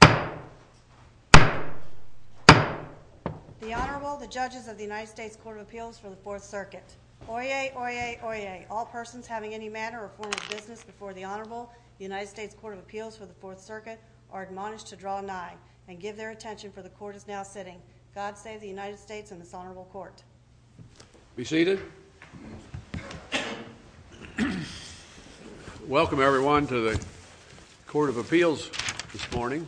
The Honorable, the judges of the United States Court of Appeals for the Fourth Circuit. Oyez, oyez, oyez. All persons having any matter or form of business before the Honorable, the United States Court of Appeals for the Fourth Circuit are admonished to draw nine and give their attention for the court is now sitting. God save the United States and this honorable court. Be seated. Welcome, everyone, to the Court of Appeals this morning.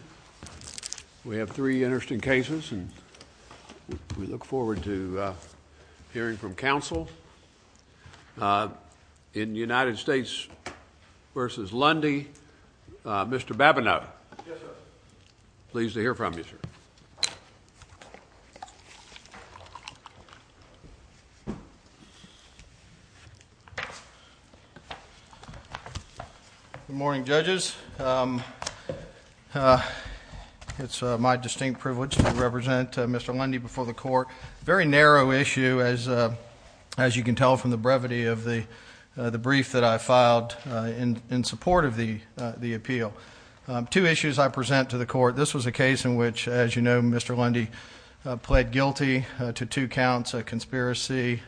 We have three interesting cases and we look forward to hearing from counsel. In United States v. Lundy, Mr. Babineau, pleased to hear from you, sir. Good morning, judges. It's my distinct privilege to represent Mr. Lundy before the court. Very narrow issue, as you can tell from the brevity of the brief that I filed in support of the Two issues I present to the court. This was a case in which, as you know, Mr. Lundy pled guilty to two counts, a conspiracy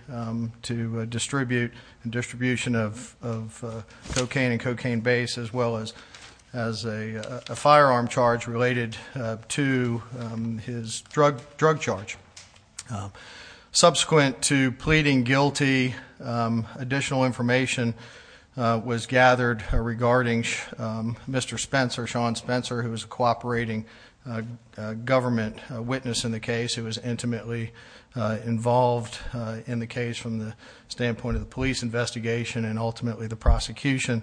to distribute and distribution of cocaine and cocaine base as well as a firearm charge related to his drug charge. Subsequent to pleading guilty, additional information was gathered regarding Mr. Spencer, Sean Spencer, who was a cooperating government witness in the case, who was intimately involved in the case from the standpoint of the police investigation and ultimately the prosecution.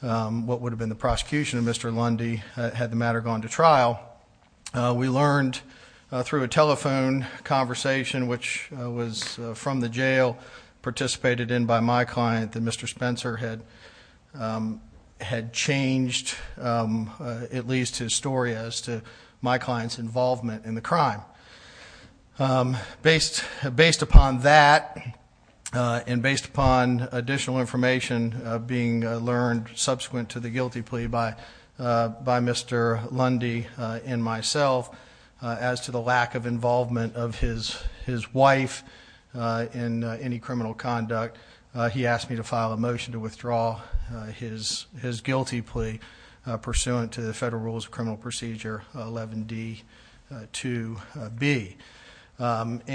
What would have been the prosecution of Mr. Lundy had the matter gone to trial. We learned through a telephone conversation which was from the jail, participated in by my client, that Mr. Spencer had changed at least his story as to my client's involvement in the crime. Based upon that and based upon additional information being learned subsequent to the guilty plea by Mr. Lundy and myself as to the lack of involvement of his wife in any criminal conduct, he asked me to file a motion to withdraw his guilty plea pursuant to the Federal Rules of Criminal Procedure 11D2B.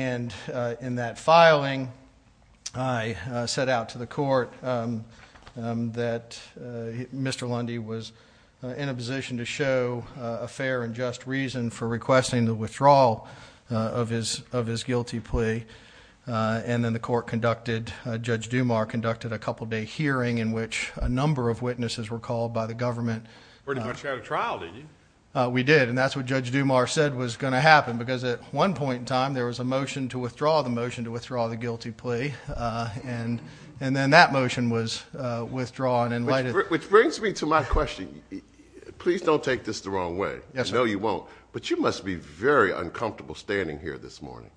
In that filing, I set out to the court that Mr. Lundy was in a position to show a request in the withdrawal of his guilty plea and then the court conducted, Judge Dumar conducted a couple day hearing in which a number of witnesses were called by the government. Pretty much had a trial didn't you? We did and that's what Judge Dumar said was going to happen because at one point in time there was a motion to withdraw the motion to withdraw the guilty plea and then that motion was withdrawn. Which brings me to my question, please don't take this the very uncomfortable standing here this morning.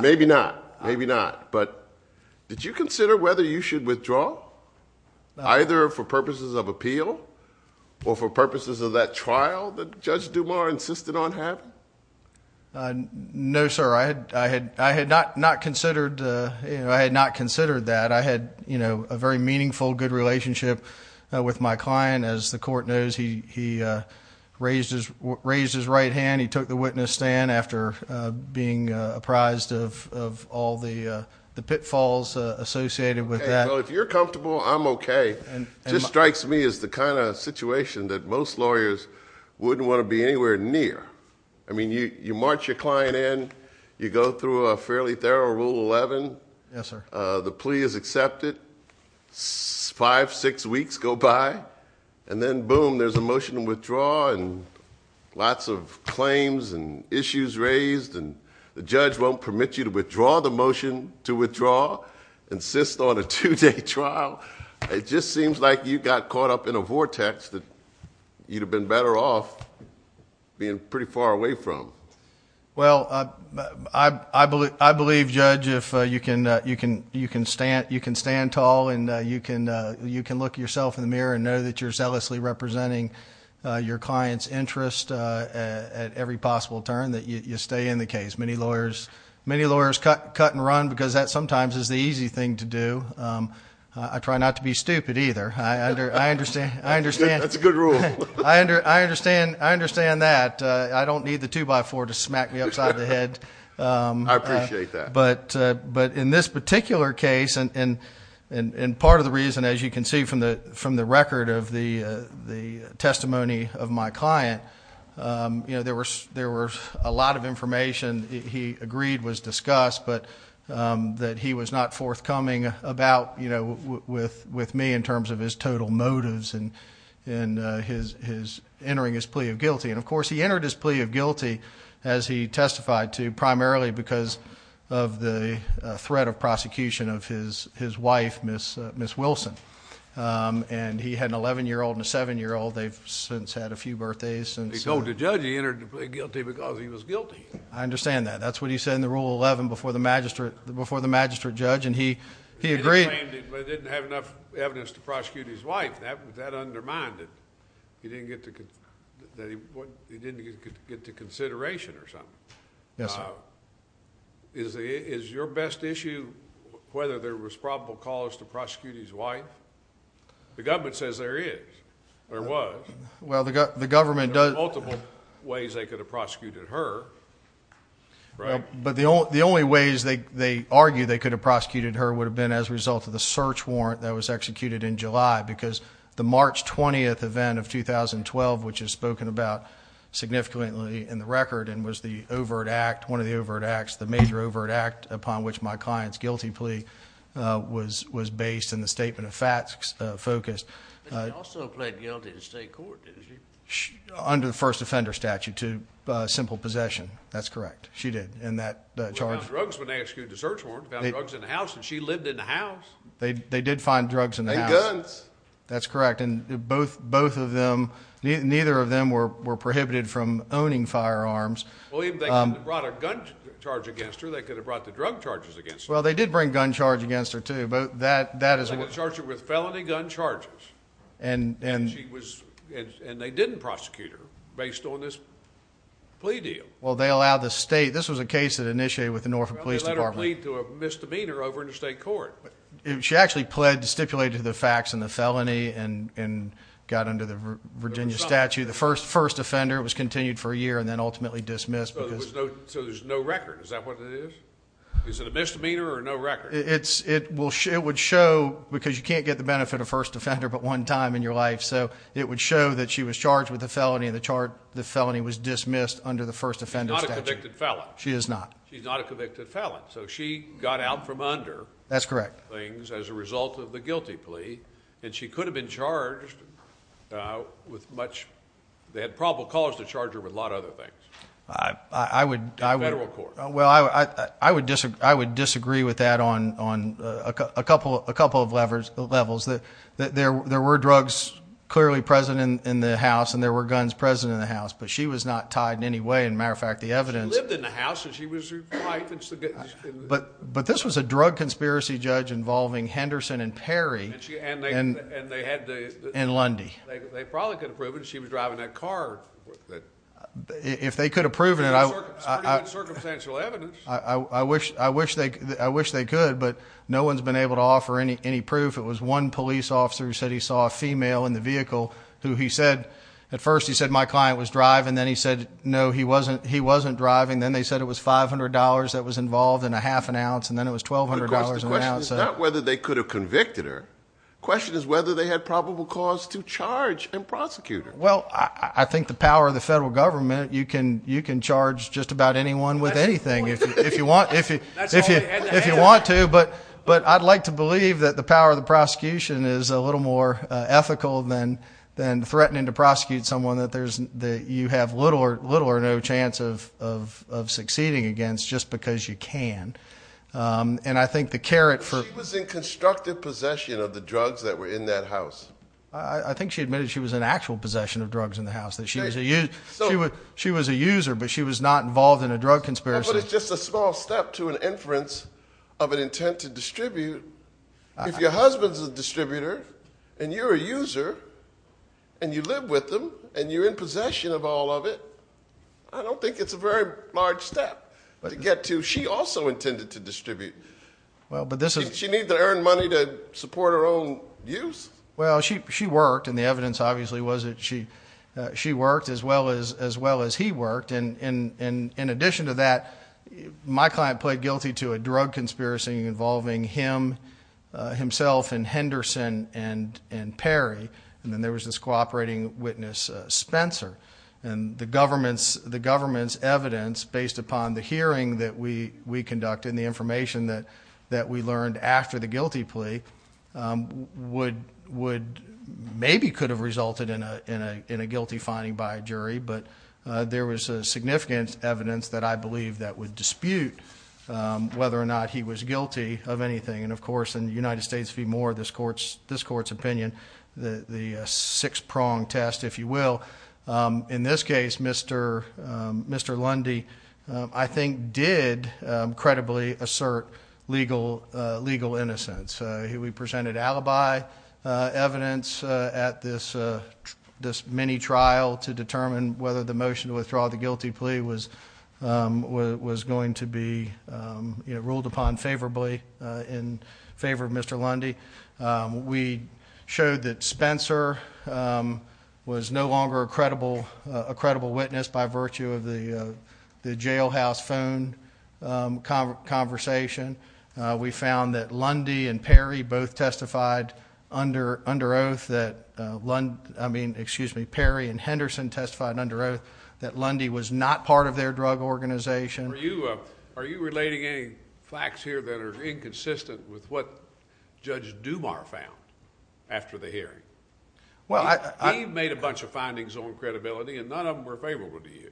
Maybe not, maybe not, but did you consider whether you should withdraw either for purposes of appeal or for purposes of that trial that Judge Dumar insisted on having? No sir, I had not considered that. I had you know a very meaningful good relationship with my client. As the court knows, he raised his right hand. He took the witness stand after being apprised of all the pitfalls associated with that. Well if you're comfortable, I'm okay. It just strikes me as the kind of situation that most lawyers wouldn't want to be anywhere near. I mean you march your client in, you go through a fairly thorough Rule 11. Yes sir. The plea is accepted. Five, six weeks go by and then boom there's a motion to withdraw and lots of claims and issues raised and the judge won't permit you to withdraw the motion to withdraw, insist on a two-day trial. It just seems like you got caught up in a vortex that you'd have been better off being pretty far away from. Well I believe Judge if you can stand tall and you can look yourself in the mirror and know that you're zealously representing your client's interest at every possible turn that you stay in the case. Many lawyers cut and run because that sometimes is the easy thing to do. I try not to be stupid either. That's a good rule. I understand that. I don't need the 2x4 to smack me upside the head. I appreciate that. But in this particular case and part of the reason as you can see from the record of the testimony of my client, there was a lot of information he agreed was discussed but that he was not forthcoming about you know with me in terms of his total motives and his entering his plea of guilty. And of course he entered his plea of guilty as he testified to primarily because of the threat of prosecution of his wife Ms. Wilson. And he had an 11 year old and a 7 year old. They've since had a few birthdays. They told the judge he entered the plea of guilty because he was guilty. I understand that. That's what he said in the Rule 11 before the magistrate judge. And he he agreed but didn't have enough evidence to prosecute his wife. That undermined it. He didn't get to get to consideration or something. Yes. Is your best issue whether there was probable cause to prosecute his wife? The government says there is or was. Well, the government does multiple ways they could have prosecuted her, right? But the only ways they argue they could have prosecuted her would have been as a result of the search warrant that was executed in July because the March 20th event of 2012 which is spoken about significantly in the record and was the overt act, one of the overt acts, the major overt act upon which my client's guilty plea was based in the statement of facts focus. But she also pled guilty to state court. Under the first offender statute to simple possession. That's correct. She did. And that charge drugs when they ask you to search warrant drugs in the house and she lived in the house. They they did find drugs and guns. That's correct. And both both of them. Neither of them were prohibited from owning firearms. William, they brought a gun charge against her. They could have brought the drug charges against. Well, they did bring gun charge against her too, but that that is what charge it with felony gun charges and and she was and they didn't prosecute her based on this. Plea deal. Well, they allow the state. This was a case that initiated with the Norfolk Police Department to a misdemeanor over in the state court. She actually pled to stipulate to the facts in the felony and and got under the Virginia statute. The first first offender was continued for a year and then ultimately dismissed. So there's no record. Is that what it is? Is it a misdemeanor or no record? It's it will. It would show because you can't get the benefit of first offender, but one time in your life. So it would show that she was charged with a felony in the chart. The felony was dismissed under the first offender. She is not. She's not a convicted felon, so she got out from under. That's correct. Things as a result of the guilty plea and she could have been charged with much. They had probable cause to charge her with a lot of other things. I would. I would record. Well, I would. I would disagree. I would disagree with that on on a couple of a couple of levers levels that there were drugs clearly present in the house and there were guns present in the house, but she was not tied in any way. In matter of fact, the evidence lived in the house and she was right, but but this was a drug conspiracy judge involving Henderson and Perry and they had in Lundy. They probably could have proven she was driving that car. If they could have proven it, I was pretty much circumstantial evidence. I wish I wish they could. I wish they could. But no one's been able to offer any any proof. It was one police officer who said he saw a female in the vehicle who he said at first he said my client was driving. Then he said no, he wasn't. He wasn't driving. Then they said it was $500 that was involved in a half an ounce. And then it was $1200. Whether they could have convicted her question is whether they had probable cause to charge and prosecute her. Well, I think the power of the federal government, you can you can charge just about anyone with anything if you want, if you if you if you want to, but but I'd like to believe that the power of the prosecution is a little more ethical than than threatening to prosecute someone that there's that you have little or little or no chance of of of succeeding against just because you can. And I think the carrot for was in constructive possession of the drugs that were in that house. I think she admitted she was in actual possession of drugs in the house that she was a user. So she was she was a user, but she was not involved in a drug conspiracy. But it's just a small step to an inference of an intent to distribute. If your husband's a distributor, and you're a user, and you live with them, and you're in possession of all of it. I don't think it's a very large step to get to she also intended to distribute. Well, but this is she needs to earn money to support her own use. Well, she she worked and the evidence obviously was that she she worked as well as as well as he worked. And in in addition to that, my client pled guilty to a drug conspiracy involving him, himself and Henderson and and Perry. And then there was this cooperating witness, Spencer, and the government's the government's evidence based upon the hearing that we we conducted the information that that we learned after the guilty plea would would maybe could have resulted in a in a in a guilty finding by a jury. But there was a significant evidence that I believe that would dispute whether or not he was guilty of anything. And of course, in the United States, be more this courts, this court's opinion, the six prong test, if you will. In this case, Mr. Mr. Lundy, I think did credibly assert legal, legal innocence. We presented alibi evidence at this this mini trial to determine whether the motion to withdraw the guilty plea was was going to be ruled upon favorably in favor of Mr. Lundy. We showed that Spencer was no longer a credible, a credible witness by virtue of the jailhouse phone conversation. We found that Lundy and Perry both testified under under oath that one I mean, excuse me, Perry and Henderson testified under oath that Lundy was not part of their drug organization. Are you are you relating any facts here that are inconsistent with what Judge Dumar found after the hearing? Well, I made a bunch of findings on credibility and none of them were favorable to you.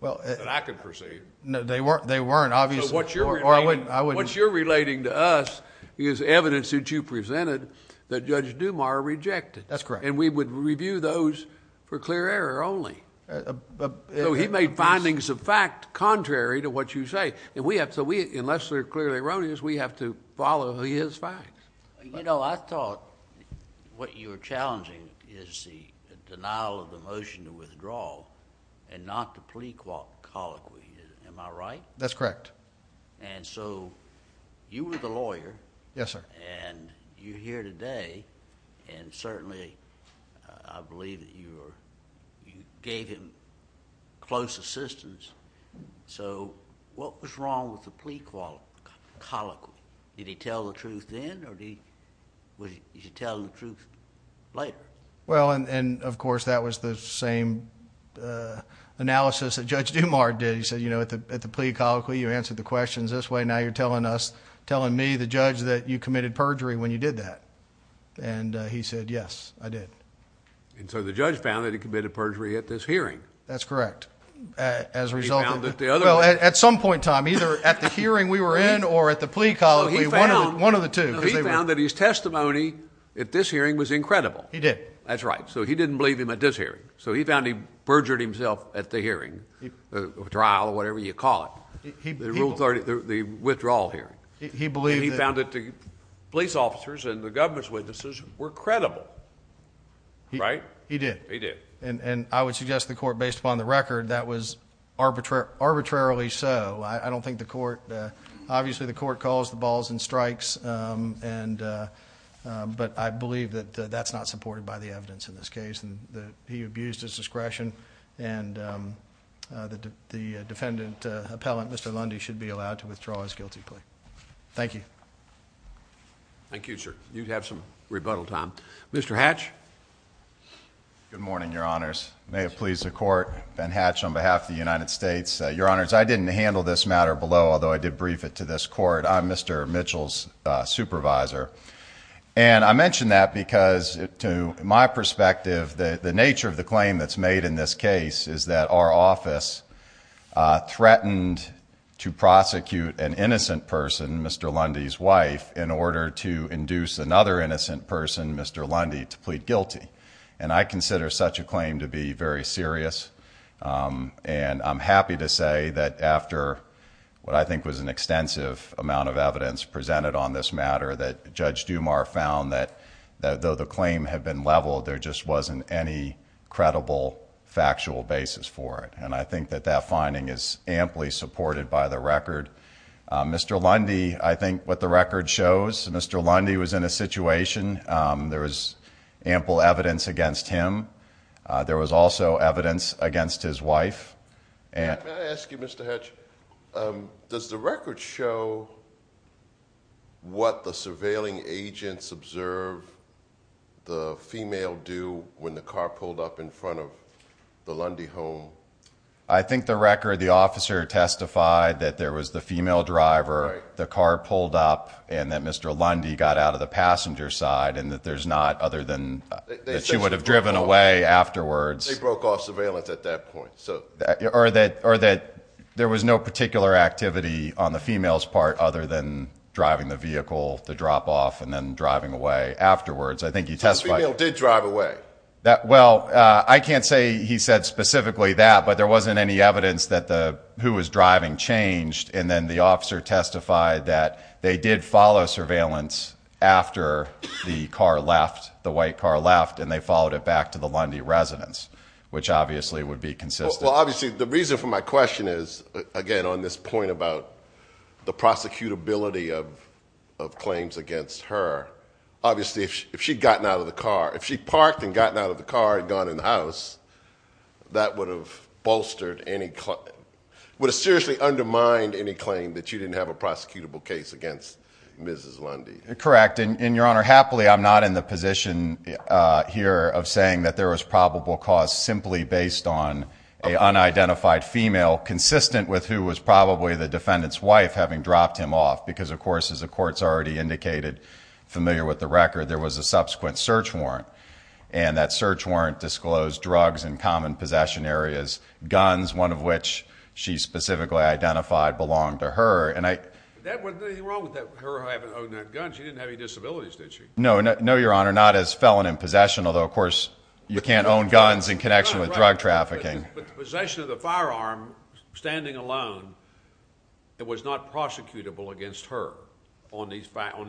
Well, I could perceive. No, they weren't. They weren't. Obviously, what you're what you're relating to us is evidence that you presented that Judge Dumar rejected. That's correct. And we would review those for clear error only. He made findings of fact contrary to what you say. And we have to we unless they're clearly erroneous, we have to follow his facts. You know, I thought what you were challenging is the denial of the motion to withdraw and not the plea colloquy. Am I right? That's correct. And so you were the lawyer. Yes, sir. And you're here today. And certainly I believe that you gave him close assistance. So what was wrong with the plea colloquy? Did he tell the truth then or did he tell the truth later? Well, and of course, that was the same analysis that Judge Dumar did. He said, you know, at the at the plea colloquy, you answered the questions this way. Now you're telling us telling me, the judge, that you committed perjury when you did that. And he said, yes, I did. And so the judge found that he committed perjury at this hearing. That's correct. As a result, that the other at some point time, either at the hearing we were in or at the plea colloquy, one of the one of the two, he found that his testimony at this hearing was incredible. He did. That's right. So he didn't believe him at this hearing. So he found he perjured himself at the hearing, the trial or whatever you call it, the rule 30, the withdrawal hearing, he believed he found that the police officers and the government's witnesses were credible. Right, he did. He did. And I would suggest the court based upon the record that was arbitrary, arbitrarily. So I don't think the court, obviously, the court calls the balls and strikes. And but I believe that that's not supported by the evidence in this case and that he abused his discretion and that the defendant appellant, Mr. Lundy, should be allowed to withdraw his guilty plea. Thank you. Thank you, sir. You have some rebuttal time, Mr. Hatch. Good morning, your honors. May it please the court. Ben Hatch on behalf of the United States. Your honors, I didn't handle this matter below, although I did brief it to this court. I'm Mr. Mitchell's supervisor. And I mentioned that because to my perspective, the nature of the claim that's made in this case is that our office threatened to prosecute an innocent person, Mr. Lundy's wife, in order to induce another innocent person, Mr. Lundy, to plead guilty. And I consider such a claim to be very serious. And I'm happy to say that after what I think was an extensive amount of evidence presented on this matter, that Judge Dumar found that though the claim had been leveled, there just wasn't any credible factual basis for it. And I think that that finding is amply supported by the record. Mr. Lundy, I think what the record shows, Mr. Lundy was in a situation. There was ample evidence against him. There was also evidence against his wife. May I ask you, Mr. Hatch, does the record show what the surveilling agents observed the female do when the car pulled up in front of the Lundy home? I think the record, the officer testified that there was the female driver, the car pulled up, and that Mr. Lundy got out of the passenger side, and that there's not other than that she would have driven away afterwards. They broke off surveillance at that point, so. Or that there was no particular activity on the female's part other than driving the vehicle to drop off and then driving away afterwards. I think he testified- The female did drive away. Well, I can't say he said specifically that, but there wasn't any evidence that who was driving changed. And then the officer testified that they did follow surveillance after the car left, the white car left, and they followed it back to the Lundy residence, which obviously would be consistent. Well, obviously, the reason for my question is, again, on this point about the prosecutability of claims against her. Obviously, if she'd gotten out of the car, if she'd parked and gotten out of the car and gone in the house, that would have bolstered any, would have seriously undermined any claim that you didn't have a prosecutable case against Mrs. Lundy. Correct, and your honor, happily, I'm not in the position here of saying that there was probable cause simply based on an unidentified female consistent with who was probably the defendant's wife having dropped him off. Because of course, as the court's already indicated, familiar with the record, there was a subsequent search warrant. And that search warrant disclosed drugs in common possession areas, guns, one of which she specifically identified belonged to her. And I- There wasn't anything wrong with her having owned that gun, she didn't have any disabilities, did she? No, your honor, not as felon in possession, although of course, you can't own guns in connection with drug trafficking. But the possession of the firearm, standing alone, it was not prosecutable against her on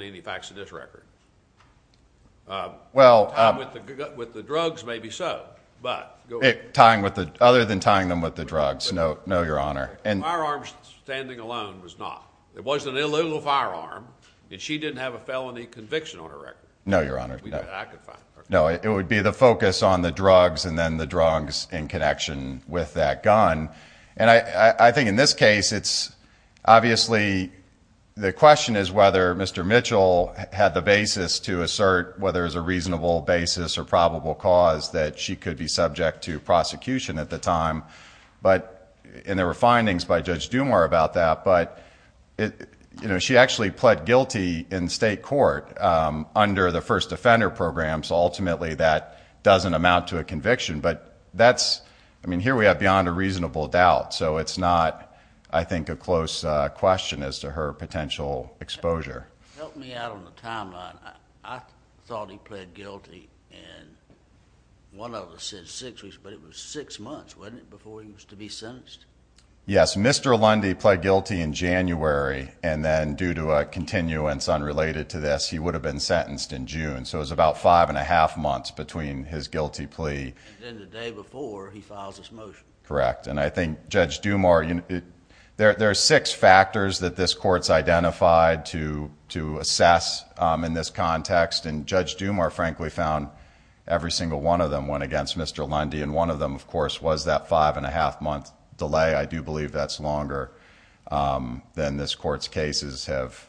any facts of this record? Well- Tied with the drugs, maybe so, but- Tying with the, other than tying them with the drugs, no, your honor. The firearm standing alone was not. It was an illegal firearm, and she didn't have a felony conviction on her record. No, your honor, no. I could find her. No, it would be the focus on the drugs and then the drugs in connection with that gun. And I think in this case, it's obviously, the question is whether Mr. Mitchell had the basis to assert whether it was a reasonable basis or probable cause that she could be subject to prosecution at the time. But, and there were findings by Judge Dumour about that, but she actually pled guilty in state court under the first offender program. So ultimately, that doesn't amount to a conviction. But that's, I mean, here we have beyond a reasonable doubt. So it's not, I think, a close question as to her potential exposure. Help me out on the timeline. I thought he pled guilty in, one of the six weeks, but it was six months, wasn't it, before he was to be sentenced? Yes, Mr. Lundy pled guilty in January. And then due to a continuance unrelated to this, he would have been sentenced in June. So it was about five and a half months between his guilty plea. And then the day before, he files his motion. Correct. And I think Judge Dumour, there are six factors that this court's identified to assess in this context. And Judge Dumour, frankly, found every single one of them went against Mr. Lundy. And one of them, of course, was that five and a half month delay. I do believe that's longer than this court's cases have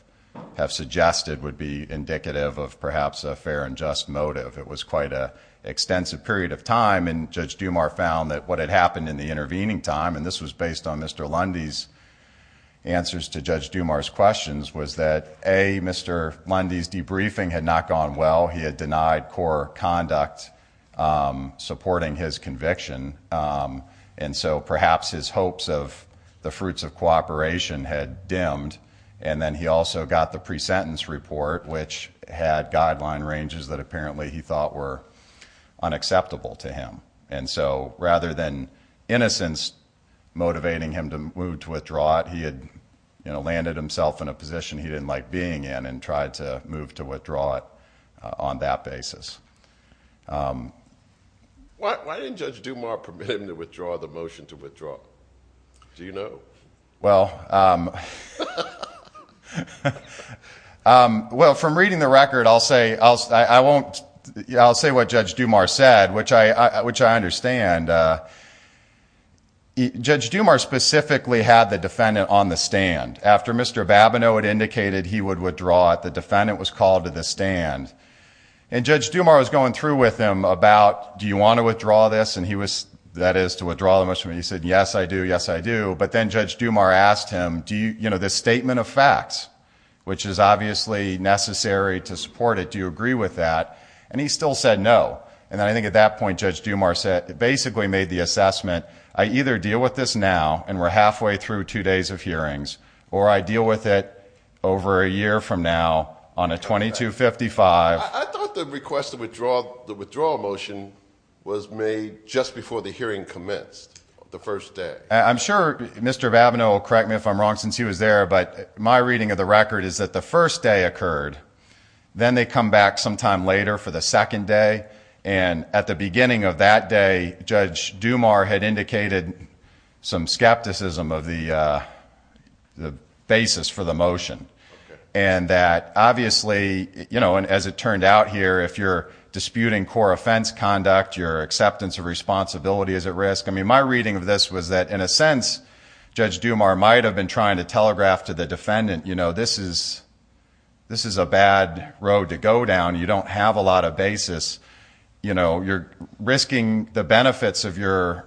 suggested would be indicative of perhaps a fair and just motive. It was quite an extensive period of time. And Judge Dumour found that what had happened in the intervening time, and this was based on Mr. Lundy's answers to Judge Dumour's questions, was that A, Mr. Lundy's debriefing had not gone well. He had denied core conduct supporting his conviction. And so perhaps his hopes of the fruits of cooperation had dimmed. And then he also got the pre-sentence report, which had guideline ranges that apparently he thought were unacceptable to him. And so rather than innocence motivating him to move to withdraw it, he had landed himself in a position he didn't like being in and tried to move to withdraw it on that basis. Why didn't Judge Dumour permit him to withdraw the motion to withdraw? Do you know? Well, from reading the record, I'll say what Judge Dumour said, which I understand. Judge Dumour specifically had the defendant on the stand. After Mr. Babineau had indicated he would withdraw it, the defendant was called to the stand. And Judge Dumour was going through with him about, do you want to withdraw this? And he was, that is, to withdraw the motion. He said, yes, I do. Yes, I do. But then Judge Dumour asked him, do you, you know, this statement of facts, which is obviously necessary to support it, do you agree with that? And he still said no. And I think at that point, Judge Dumour said, basically made the assessment, I either deal with this now, and we're halfway through two days of hearings, or I deal with it over a year from now on a 2255. I thought the request to withdraw the withdrawal motion was made just before the hearing commenced the first day. I'm sure Mr. Babineau will correct me if I'm wrong, since he was there. But my reading of the record is that the first day occurred. Then they come back sometime later for the second day. And at the beginning of that day, Judge Dumour had indicated some skepticism of the basis for the motion, and that obviously, you know, and as it turned out here, if you're disputing core offense conduct, your acceptance of responsibility is at risk. I mean, my reading of this was that, in a sense, Judge Dumour might have been trying to telegraph to the defendant, you know, this is a bad road to go down. You don't have a lot of basis. You know, you're risking the benefits of your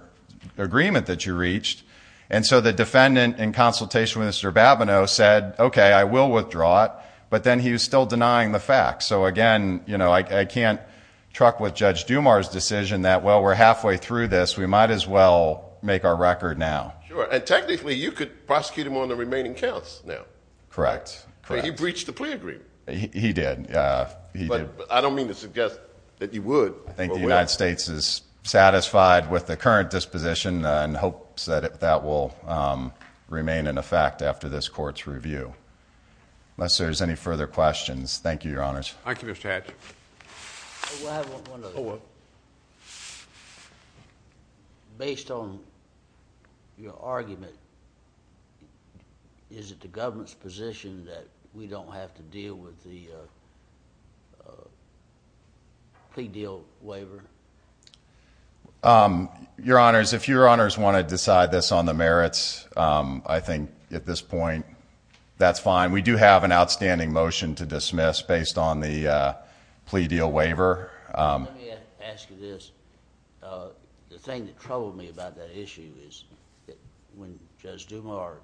agreement that you reached. And so the defendant in consultation with Mr. Babineau said, OK, I will withdraw it. But then he was still denying the fact. So again, you know, I can't truck with Judge Dumour's decision that, well, we're halfway through this. We might as well make our record now. Sure. And technically, you could prosecute him on the remaining counts now. Correct. He breached the plea agreement. He did. I don't mean to suggest that he would. I think the United States is satisfied with the current disposition and hopes that that will remain in effect after this court's review. Unless there's any further questions. Thank you, Your Honors. Thank you, Mr. Hatch. Based on your argument, is it the government's position that we don't have to deal with the plea deal waiver? Your Honors, if Your Honors want to decide this on the merits, I think at this point, that's fine. We do have an outstanding motion to dismiss based on the plea deal waiver. Let me ask you this. The thing that troubled me about that issue is that when Judge Dumour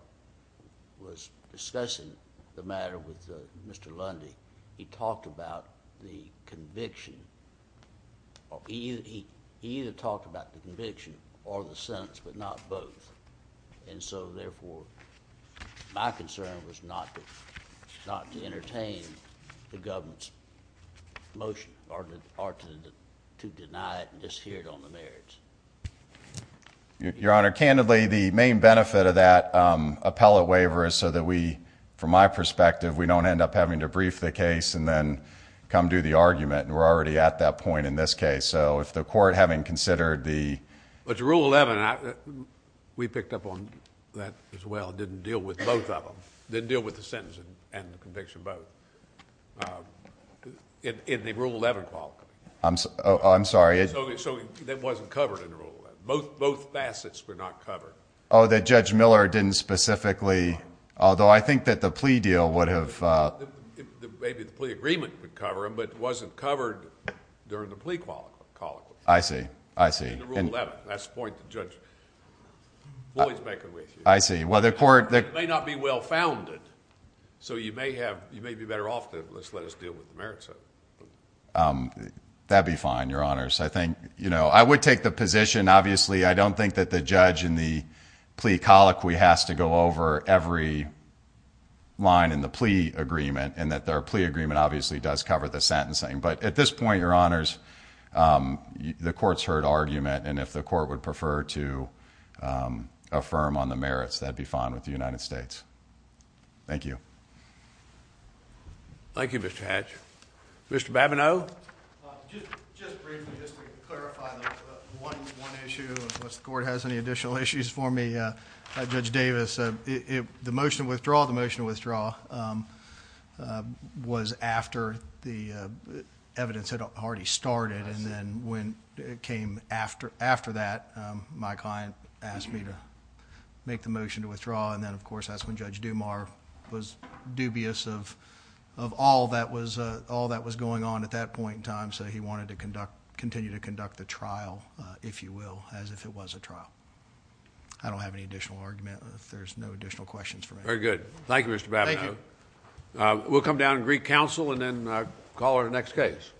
was discussing the matter with Mr. Lundy, he talked about the conviction or he either talked about the conviction or the sentence, but not both. And so, therefore, my concern was not to entertain the government's motion or to deny it and just hear it on the merits. Your Honor, candidly, the main benefit of that appellate waiver is so that we, from my perspective, we don't end up having to brief the case and then come do the argument and we're already at that point in this case. So, if the court having considered the... But the Rule 11, we picked up on that as well, didn't deal with both of them, didn't deal with the sentence and the conviction both in the Rule 11 quality. I'm sorry. That wasn't covered in the Rule 11. Both facets were not covered. Oh, that Judge Miller didn't specifically... Although, I think that the plea deal would have... Maybe the plea agreement would cover them, but it wasn't covered during the plea colloquy. I see. I see. In the Rule 11. That's the point that Judge Boyd's making with you. I see. Well, the court... It may not be well-founded. So, you may be better off to just let us deal with the merits of it. That'd be fine, Your Honors. I think, you know, I would take the position, obviously, I don't think that the judge in the plea colloquy has to go over every line in the plea agreement, and that their plea agreement, obviously, does cover the sentencing. But at this point, Your Honors, the court's heard argument, and if the court would prefer to affirm on the merits, that'd be fine with the United States. Thank you. Thank you, Mr. Hatch. Mr. Babineau? Just briefly, just to clarify one issue, unless the court has any additional issues for me, Judge Davis. The motion to withdraw, the motion to withdraw, was after the evidence had already started, and then when it came after that, my client asked me to make the motion to withdraw. And then, of course, that's when Judge Dumar was dubious of all that was going on at that point in time, so he wanted to continue to conduct the trial, if you will, as if it was a trial. I don't have any additional argument. There's no additional questions for me. Very good. Thank you, Mr. Babineau. Thank you. We'll come down and greet counsel, and then call our next case.